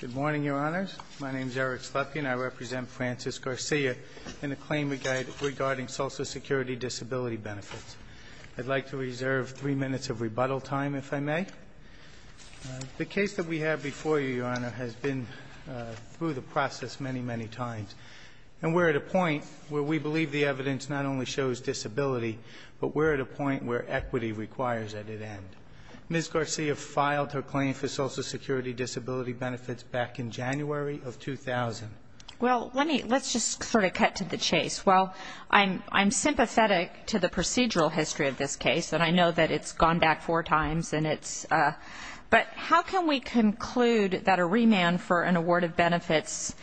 Good morning, Your Honors. My name is Eric Slepkin. I represent Frances Garcia in a claim regarding Social Security Disability Benefits. I'd like to reserve three minutes of rebuttal time, if I may. The case that we have before you, Your Honor, has been through the process many, many times. And we're at a point where we believe the evidence not only shows disability, but we're at a point where equity requires that it end. Ms. Garcia filed her claim for Social Security Disability Benefits back in January of 2000. Well, let's just sort of cut to the chase. Well, I'm sympathetic to the procedural history of this case, and I know that it's gone back four times. But how can we conclude that a remand for an award of benefits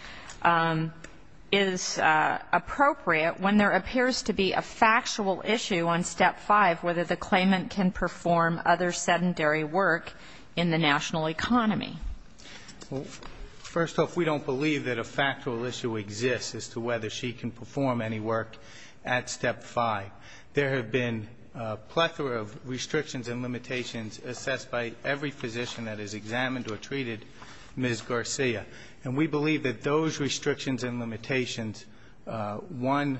is appropriate when there appears to be a factual issue on Step 5, whether the claimant can perform other sedentary work in the national economy? Well, first off, we don't believe that a factual issue exists as to whether she can perform any work at Step 5. There have been a plethora of restrictions and limitations assessed by every physician that has examined or treated Ms. Garcia. And we believe that those restrictions and limitations, one,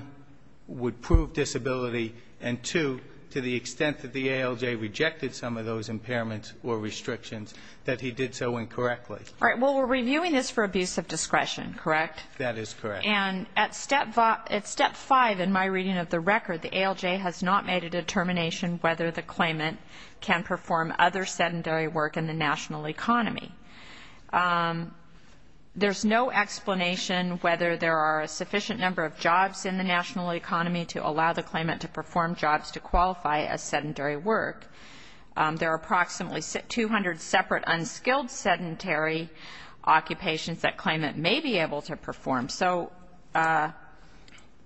would prove disability, and two, to the extent that the ALJ rejected some of those impairments or restrictions, that he did so incorrectly. All right. Well, we're reviewing this for abuse of discretion, correct? That is correct. And at Step 5, in my reading of the record, the ALJ has not made a determination whether the claimant can perform other sedentary work in the national economy. There's no explanation whether there are a sufficient number of jobs in the national economy to allow the claimant to perform jobs to qualify as sedentary work. There are approximately 200 separate unskilled sedentary occupations that claimant may be able to perform. So,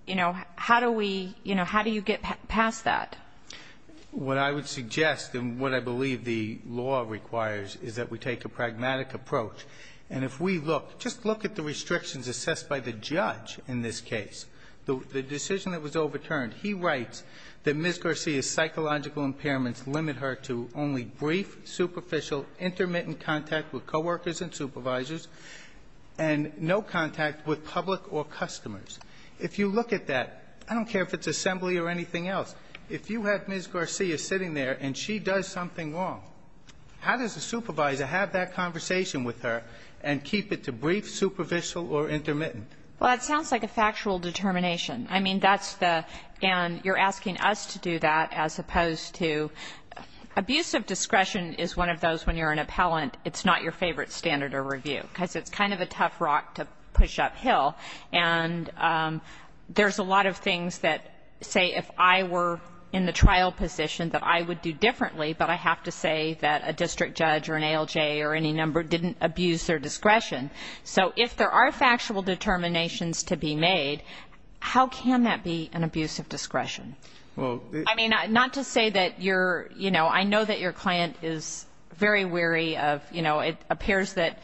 you know, how do we, you know, how do you get past that? What I would suggest and what I believe the law requires is that we take a pragmatic approach. And if we look, just look at the restrictions assessed by the judge in this case. The decision that was overturned, he writes that Ms. Garcia's psychological impairments limit her to only brief, superficial, intermittent contact with coworkers and supervisors and no contact with public or customers. If you look at that, I don't care if it's assembly or anything else, if you have Ms. Garcia sitting there and she does something wrong, how does the supervisor have that conversation with her and keep it to brief, superficial, or intermittent? Well, it sounds like a factual determination. I mean, that's the, and you're asking us to do that as opposed to abuse of discretion is one of those when you're an appellant, it's not your favorite standard of review because it's kind of a tough rock to push uphill. And there's a lot of things that say if I were in the trial position that I would do differently, but I have to say that a district judge or an ALJ or any number didn't abuse their discretion. So if there are factual determinations to be made, how can that be an abuse of discretion? I mean, not to say that you're, you know, I know that your client is very weary of, you know, it appears that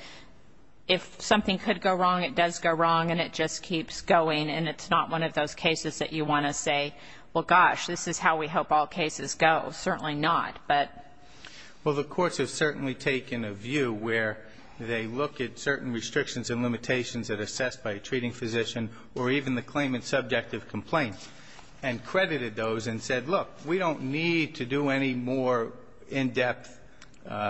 if something could go wrong, it does go wrong, and it just keeps going, and it's not one of those cases that you want to say, well, gosh, this is how we hope all cases go. Certainly not, but. Well, the courts have certainly taken a view where they look at certain restrictions and limitations that are assessed by a treating physician or even the claimant's subjective complaint and credited those and said, look, we don't need to do any more in-depth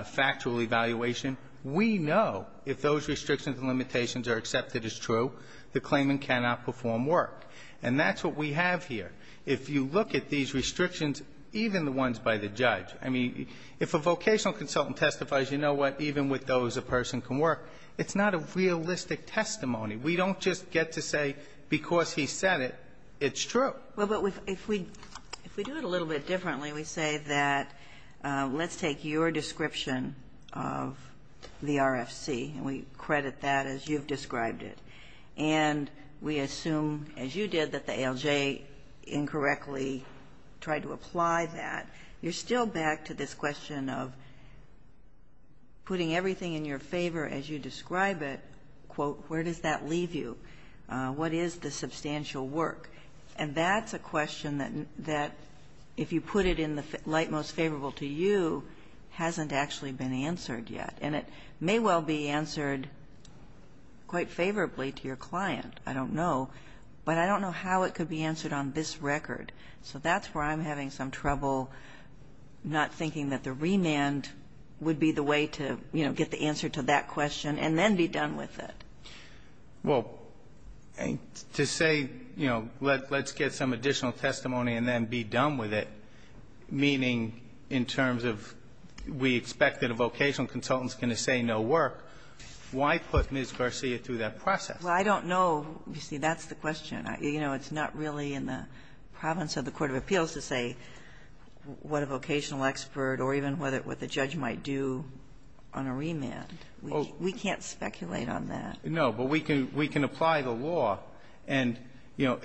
factual evaluation. We know if those restrictions and limitations are accepted as true, the claimant cannot perform work. And that's what we have here. If you look at these restrictions, even the ones by the judge, I mean, if a vocational consultant testifies, you know what, even with those a person can work, it's not a realistic testimony. We don't just get to say because he said it, it's true. Well, but if we do it a little bit differently, we say that let's take your description of the RFC, and we credit that as you've described it. And we assume, as you did, that the ALJ incorrectly tried to apply that. You're still back to this question of putting everything in your favor as you describe it, quote, where does that leave you? What is the substantial work? And that's a question that if you put it in the light most favorable to you, hasn't actually been answered yet. And it may well be answered quite favorably to your client. I don't know. But I don't know how it could be answered on this record. So that's where I'm having some trouble not thinking that the remand would be the way to, you know, get the answer to that question and then be done with it. Well, to say, you know, let's get some additional testimony and then be done with it, meaning in terms of we expect that a vocational consultant is going to say no work, why put Ms. Garcia through that process? Well, I don't know. You see, that's the question. You know, it's not really in the province of the court of appeals to say what a vocational expert or even what the judge might do on a remand. We can't speculate on that. No. But we can apply the law. And, you know,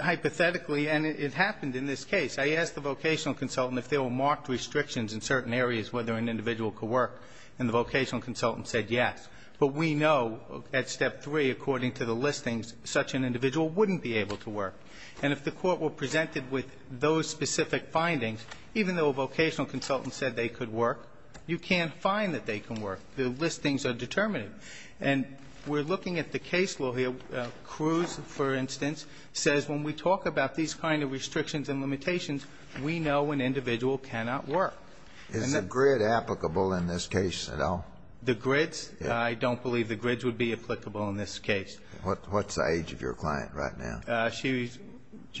hypothetically, and it happened in this case, I asked the vocational consultant if there were marked restrictions in certain areas whether an individual could work, and the vocational consultant said yes. But we know at Step 3, according to the listings, such an individual wouldn't be able to work. And if the court were presented with those specific findings, even though a vocational consultant said they could work, you can't find that they can work. The listings are determinative. And we're looking at the case law here. Cruz, for instance, says when we talk about these kind of restrictions and limitations, we know an individual cannot work. Is the grid applicable in this case at all? The grids? I don't believe the grids would be applicable in this case. What's the age of your client right now? She's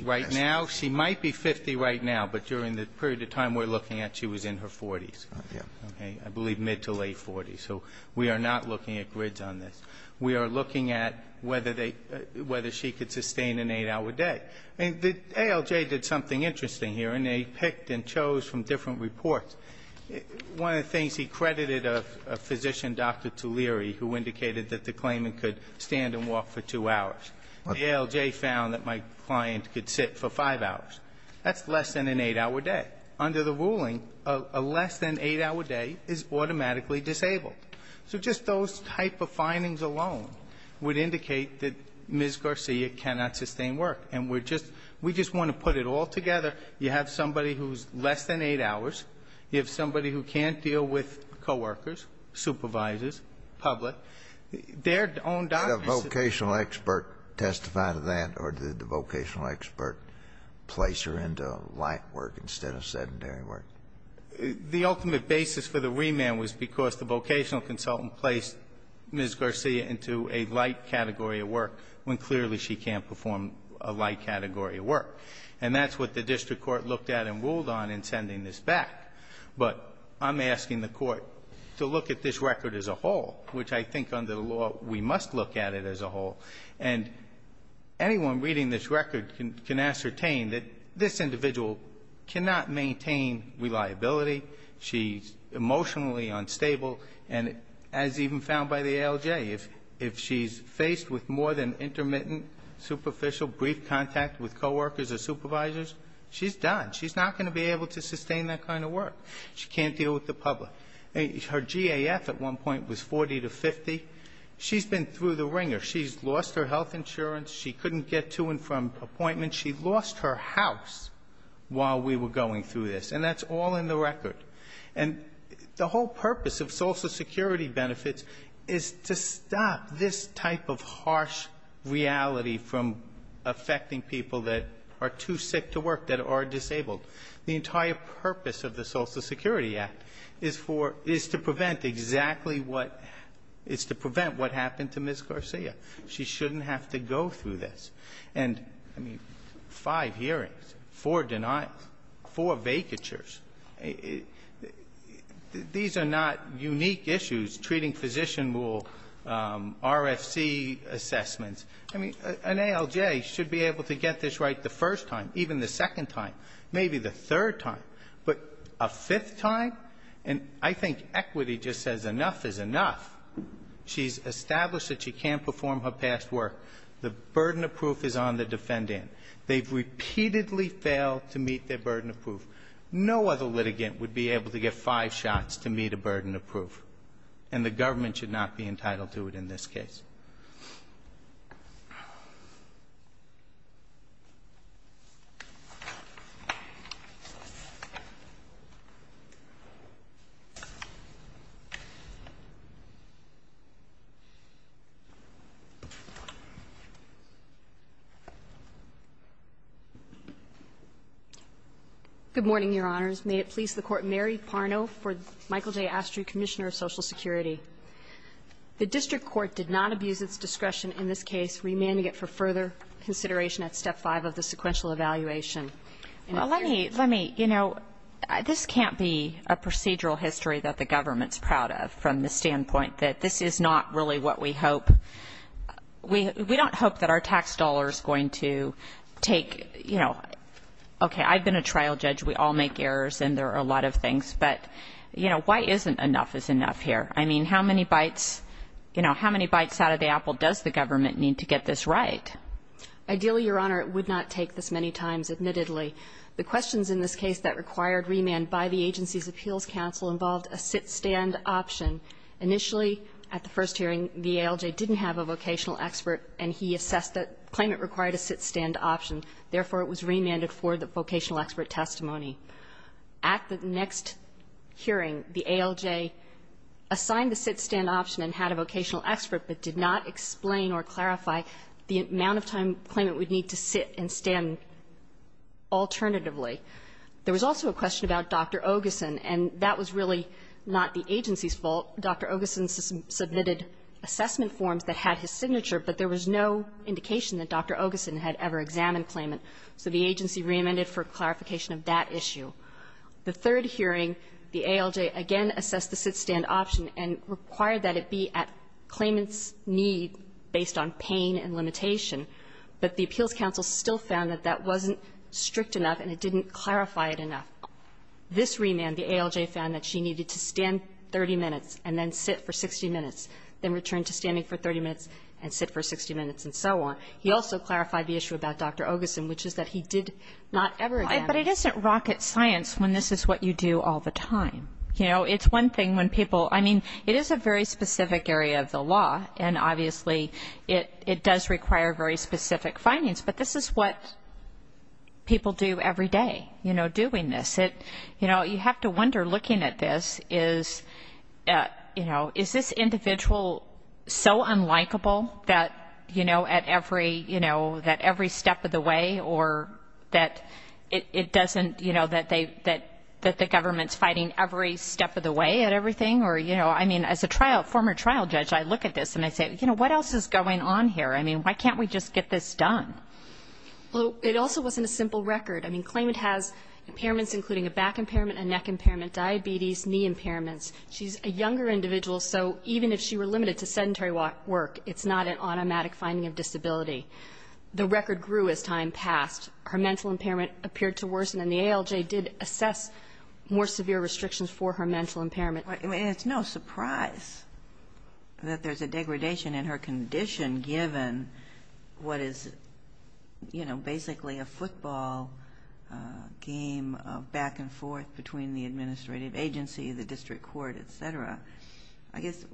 right now. She might be 50 right now. But during the period of time we're looking at, she was in her 40s. Okay. I believe mid to late 40s. So we are not looking at grids on this. We are looking at whether she could sustain an 8-hour day. And the ALJ did something interesting here, and they picked and chose from different reports. One of the things he credited a physician, Dr. Tuleri, who indicated that the claimant could stand and walk for 2 hours. The ALJ found that my client could sit for 5 hours. That's less than an 8-hour day. Under the ruling, a less than 8-hour day is automatically disabled. So just those type of findings alone would indicate that Ms. Garcia cannot sustain work. And we're just we just want to put it all together. You have somebody who's less than 8 hours. You have somebody who can't deal with coworkers, supervisors, public. Did a vocational expert testify to that, or did the vocational expert place her into light work instead of sedentary work? The ultimate basis for the remand was because the vocational consultant placed Ms. Garcia into a light category of work when clearly she can't perform a light category of work. And that's what the district court looked at and ruled on in sending this back. But I'm asking the court to look at this record as a whole, which I think under the law we must look at it as a whole. And anyone reading this record can ascertain that this individual cannot maintain reliability. She's emotionally unstable. And as even found by the ALJ, if she's faced with more than intermittent superficial brief contact with coworkers or supervisors, she's done. She's not going to be able to sustain that kind of work. She can't deal with the public. Her GAF at one point was 40 to 50. She's been through the ringer. She's lost her health insurance. She couldn't get to and from appointments. She lost her house while we were going through this. And that's all in the record. And the whole purpose of Social Security benefits is to stop this type of harsh reality from affecting people that are too sick to work, that are disabled. The entire purpose of the Social Security Act is for to prevent exactly what happened to Ms. Garcia. She shouldn't have to go through this. And, I mean, five hearings, four denials, four vacatures. These are not unique issues. Treating physician rule, RFC assessments. I mean, an ALJ should be able to get this right the first time, even the second time, maybe the third time. But a fifth time? And I think equity just says enough is enough. She's established that she can't perform her past work. The burden of proof is on the defendant. They've repeatedly failed to meet their burden of proof. No other litigant would be able to get five shots to meet a burden of proof. And the government should not be entitled to it in this case. Good morning, Your Honors. May it please the Court, Mary Parno for Michael J. Astry, Commissioner of Social Security. The district court did not abuse its discretion in this case. We may need it for further consideration at step five of the sequential evaluation. Well, let me, you know, this can't be a procedural history that the government is proud of from the standpoint that this is not really what we hope. We don't hope that our tax dollar is going to take, you know, okay, I've been a trial judge. We all make errors, and there are a lot of things. But, you know, why isn't enough is enough here? I mean, how many bites, you know, how many bites out of the apple does the government need to get this right? Ideally, Your Honor, it would not take this many times, admittedly. The questions in this case that required remand by the agency's appeals counsel involved a sit-stand option. Initially, at the first hearing, the ALJ didn't have a vocational expert, and he assessed that the claimant required a sit-stand option. Therefore, it was remanded for the vocational expert testimony. At the next hearing, the ALJ assigned the sit-stand option and had a vocational expert, but did not explain or clarify the amount of time the claimant would need to sit and stand alternatively. There was also a question about Dr. Ogeson, and that was really not the agency's fault. Dr. Ogeson submitted assessment forms that had his signature, but there was no indication that Dr. Ogeson had ever examined claimant. So the agency reamended for clarification of that issue. The third hearing, the ALJ again assessed the sit-stand option and required that it be at claimant's need based on pain and limitation, but the appeals counsel still found that that wasn't strict enough and it didn't clarify it enough. This remand, the ALJ found that she needed to stand 30 minutes and then sit for 60 minutes, then return to standing for 30 minutes and sit for 60 minutes and so on. So he also clarified the issue about Dr. Ogeson, which is that he did not ever examine. But it isn't rocket science when this is what you do all the time. You know, it's one thing when people, I mean, it is a very specific area of the law, and obviously it does require very specific findings, but this is what people do every day, you know, doing this. You know, you have to wonder, looking at this, is, you know, is this individual so unlikable that, you know, at every, you know, that every step of the way or that it doesn't, you know, that they, that the government's fighting every step of the way at everything, or, you know, I mean, as a trial, former trial judge, I look at this and I say, you know, what else is going on here? I mean, why can't we just get this done? Well, it also wasn't a simple record. I mean, claimant has impairments including a back impairment, a neck impairment, diabetes, knee impairments. She's a younger individual, so even if she were limited to sedentary work, it's not an automatic finding of disability. The record grew as time passed. Her mental impairment appeared to worsen, and the ALJ did assess more severe restrictions for her mental impairment. I mean, it's no surprise that there's a degradation in her condition given what is, you know, basically a football game of back and forth between the administrative agency, the district court, et cetera. I guess,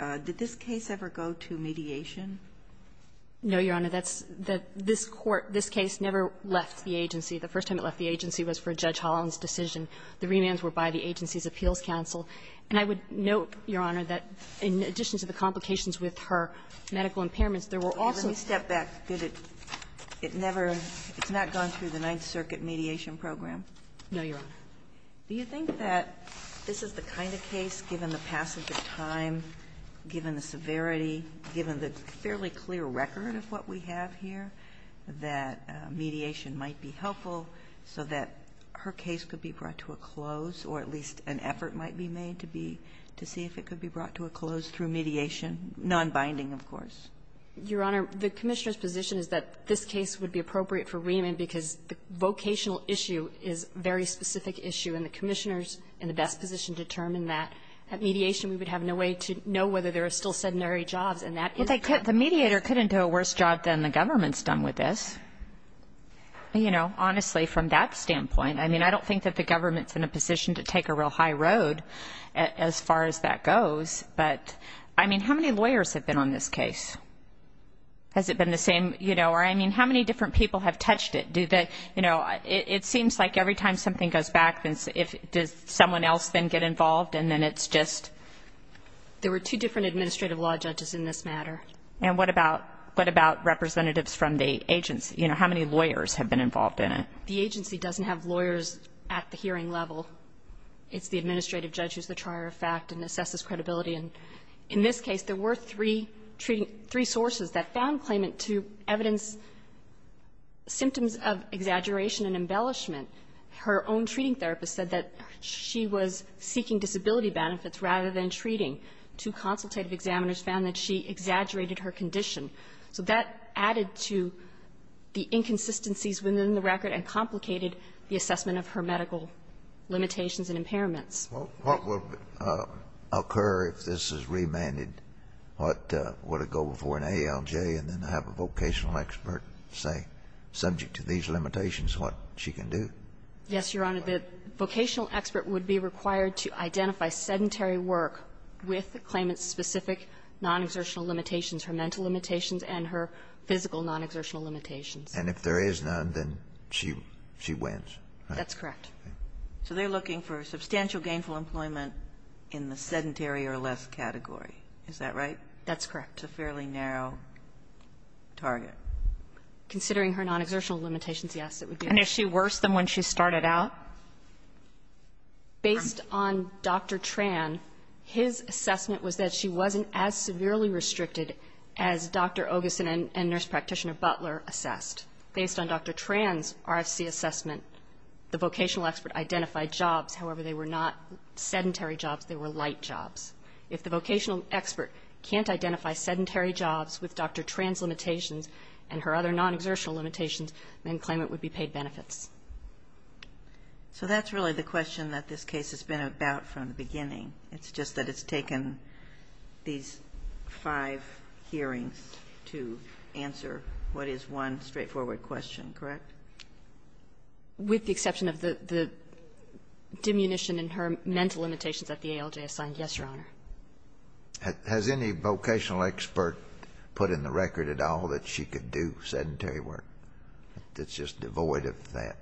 did this case ever go to mediation? No, Your Honor. That's, that this court, this case never left the agency. The first time it left the agency was for Judge Holland's decision. The remands were by the agency's appeals counsel. And I would note, Your Honor, that in addition to the complications with her medical impairments, there were also step back. Did it, it never, it's not gone through the Ninth Circuit mediation program? No, Your Honor. Do you think that this is the kind of case, given the passage of time, given the severity, given the fairly clear record of what we have here, that mediation might be helpful so that her case could be brought to a close, or at least an effort might be made to be, to see if it could be brought to a close through mediation, nonbinding, of course? Your Honor, the Commissioner's position is that this case would be appropriate for remand because the vocational issue is a very specific issue, and the Commissioner's in the best position to determine that. At mediation, we would have no way to know whether there are still sedentary jobs, and that is a problem. Well, the mediator couldn't do a worse job than the government's done with this. You know, honestly, from that standpoint, I mean, I don't think that the government's in a position to take a real high road as far as that goes. But, I mean, how many lawyers have been on this case? Has it been the same, you know? Or, I mean, how many different people have touched it? Do they, you know, it seems like every time something goes back, does someone else then get involved, and then it's just? There were two different administrative law judges in this matter. And what about representatives from the agency? You know, how many lawyers have been involved in it? The agency doesn't have lawyers at the hearing level. It's the administrative judge who's the trier of fact and assesses credibility. And in this case, there were three sources that found claimant to evidence, symptoms of exaggeration and embellishment. Her own treating therapist said that she was seeking disability benefits rather than treating. Two consultative examiners found that she exaggerated her condition. So that added to the inconsistencies within the record and complicated the assessment of her medical limitations and impairments. What would occur if this is remanded? Would it go before an ALJ and then have a vocational expert say, subject to these limitations, what she can do? Yes, Your Honor. The vocational expert would be required to identify sedentary work with the claimant's specific non-exertional limitations, her mental limitations and her physical non-exertional limitations. And if there is none, then she wins, right? That's correct. So they're looking for substantial gainful employment in the sedentary or less category. Is that right? That's correct. It's a fairly narrow target. Considering her non-exertional limitations, yes, it would be. And is she worse than when she started out? Based on Dr. Tran, his assessment was that she wasn't as severely restricted as Dr. Ogison and Nurse Practitioner Butler assessed. Based on Dr. Tran's RFC assessment, the vocational expert identified jobs. However, they were not sedentary jobs. They were light jobs. If the vocational expert can't identify sedentary jobs with Dr. Tran's limitations and her other non-exertional limitations, then the claimant would be paid benefits. So that's really the question that this case has been about from the beginning. It's just that it's taken these five hearings to answer what is one straightforward question, correct? With the exception of the diminution in her mental limitations that the ALJ assigned, yes, Your Honor. Has any vocational expert put in the record at all that she could do sedentary work that's just devoid of that?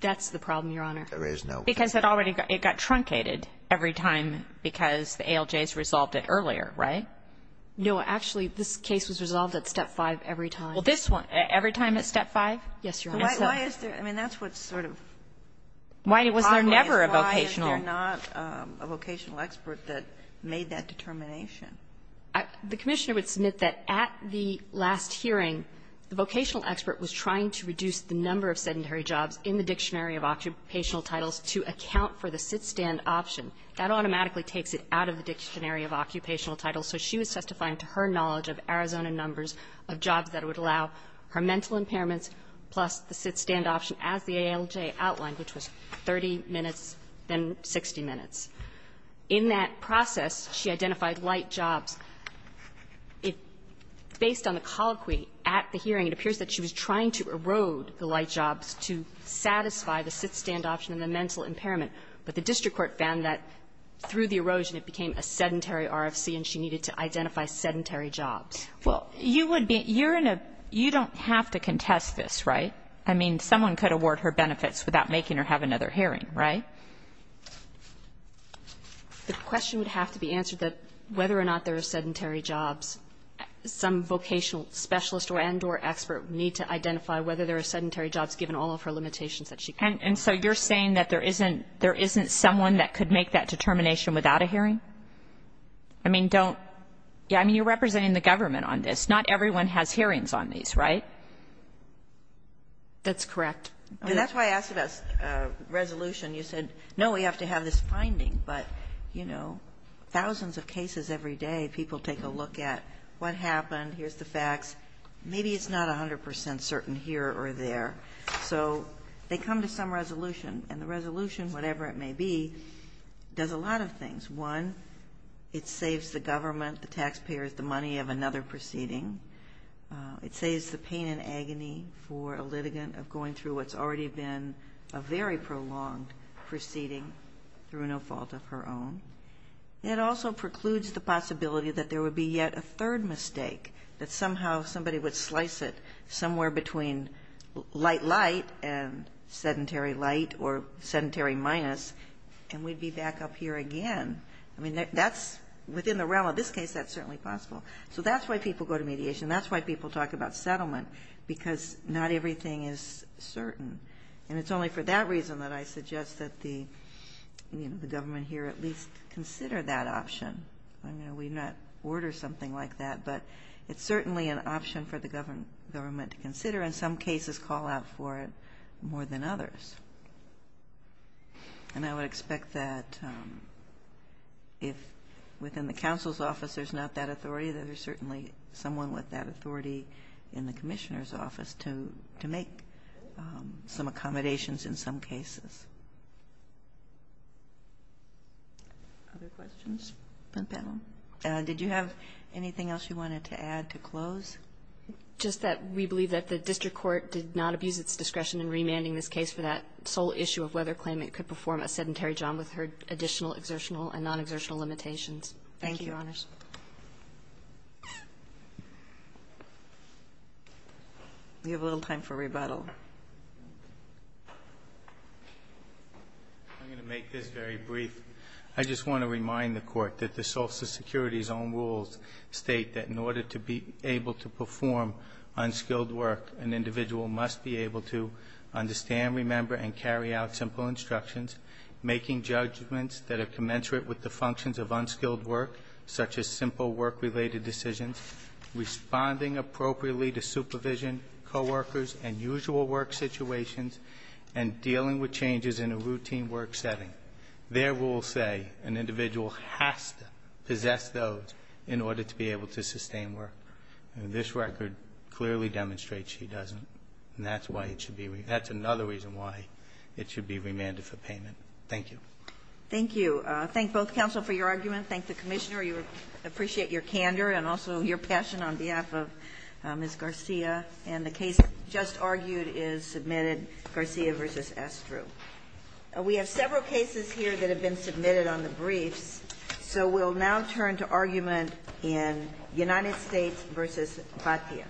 That's the problem, Your Honor. There is no case. Because it already got truncated every time because the ALJs resolved it earlier, right? No. Actually, this case was resolved at step 5 every time. Well, this one, every time at step 5? Yes, Your Honor. So why is there not a vocational expert that made that determination? The Commissioner would submit that at the last hearing, the vocational expert was trying to reduce the number of sedentary jobs in the Dictionary of Occupational Titles to account for the sit-stand option. That automatically takes it out of the Dictionary of Occupational Titles. So she was testifying to her knowledge of Arizona numbers of jobs that would allow her mental impairments plus the sit-stand option as the ALJ outlined, which was 30 minutes, then 60 minutes. In that process, she identified light jobs. Based on the colloquy at the hearing, it appears that she was trying to erode the light jobs to satisfy the sit-stand option and the mental impairment, but the district court found that through the erosion it became a sedentary RFC and she needed to identify sedentary jobs. Well, you would be you're in a you don't have to contest this, right? I mean, someone could award her benefits without making her have another hearing, right? The question would have to be answered that whether or not there are sedentary jobs, some vocational specialist and or expert would need to identify whether there are sedentary jobs given all of her limitations that she can't. And so you're saying that there isn't there isn't someone that could make that determination without a hearing? I mean, don't yeah, I mean, you're representing the government on this. Not everyone has hearings on these, right? That's correct. And that's why I asked about resolution. You said, no, we have to have this finding. But, you know, thousands of cases every day, people take a look at what happened. Here's the facts. Maybe it's not 100 percent certain here or there. So they come to some resolution and the resolution, whatever it may be, does a lot of things. One, it saves the government, the taxpayers, the money of another proceeding. It saves the pain and agony for a litigant of going through what's already been a very prolonged proceeding through no fault of her own. It also precludes the possibility that there would be yet a third mistake, that somehow somebody would slice it somewhere between light, light and sedentary light or sedentary minus, and we'd be back up here again. I mean, that's within the realm of this case, that's certainly possible. So that's why people go to mediation. That's why people talk about settlement, because not everything is certain. And it's only for that reason that I suggest that the government here at least consider that option. I mean, we've not ordered something like that. But it's certainly an option for the government to consider and some cases call out for it more than others. And I would expect that if within the counsel's office there's not that authority, that there's certainly someone with that authority in the commissioner's office to make some accommodations in some cases. Other questions from the panel? Did you have anything else you wanted to add to close? Just that we believe that the district court did not abuse its discretion in remanding this case for that sole issue of whether a claimant could perform a sedentary job with her additional exertional and non-exertional limitations. Thank you, Your Honors. We have a little time for rebuttal. I'm going to make this very brief. I just want to remind the Court that the Social Security's own rules state that in order to be able to sustain work, this record clearly demonstrates she doesn't. That's another reason why it should be remanded for payment. Thank you. Thank you. Thank both counsel for your argument. Thank the commissioner. We appreciate your candor and also your passion on behalf of Ms. Garcia. And the case just argued is submitted, Garcia v. Estru. We have several cases here that have been submitted on the briefs, so we'll now turn to argument in United States v. Patia. Thank you.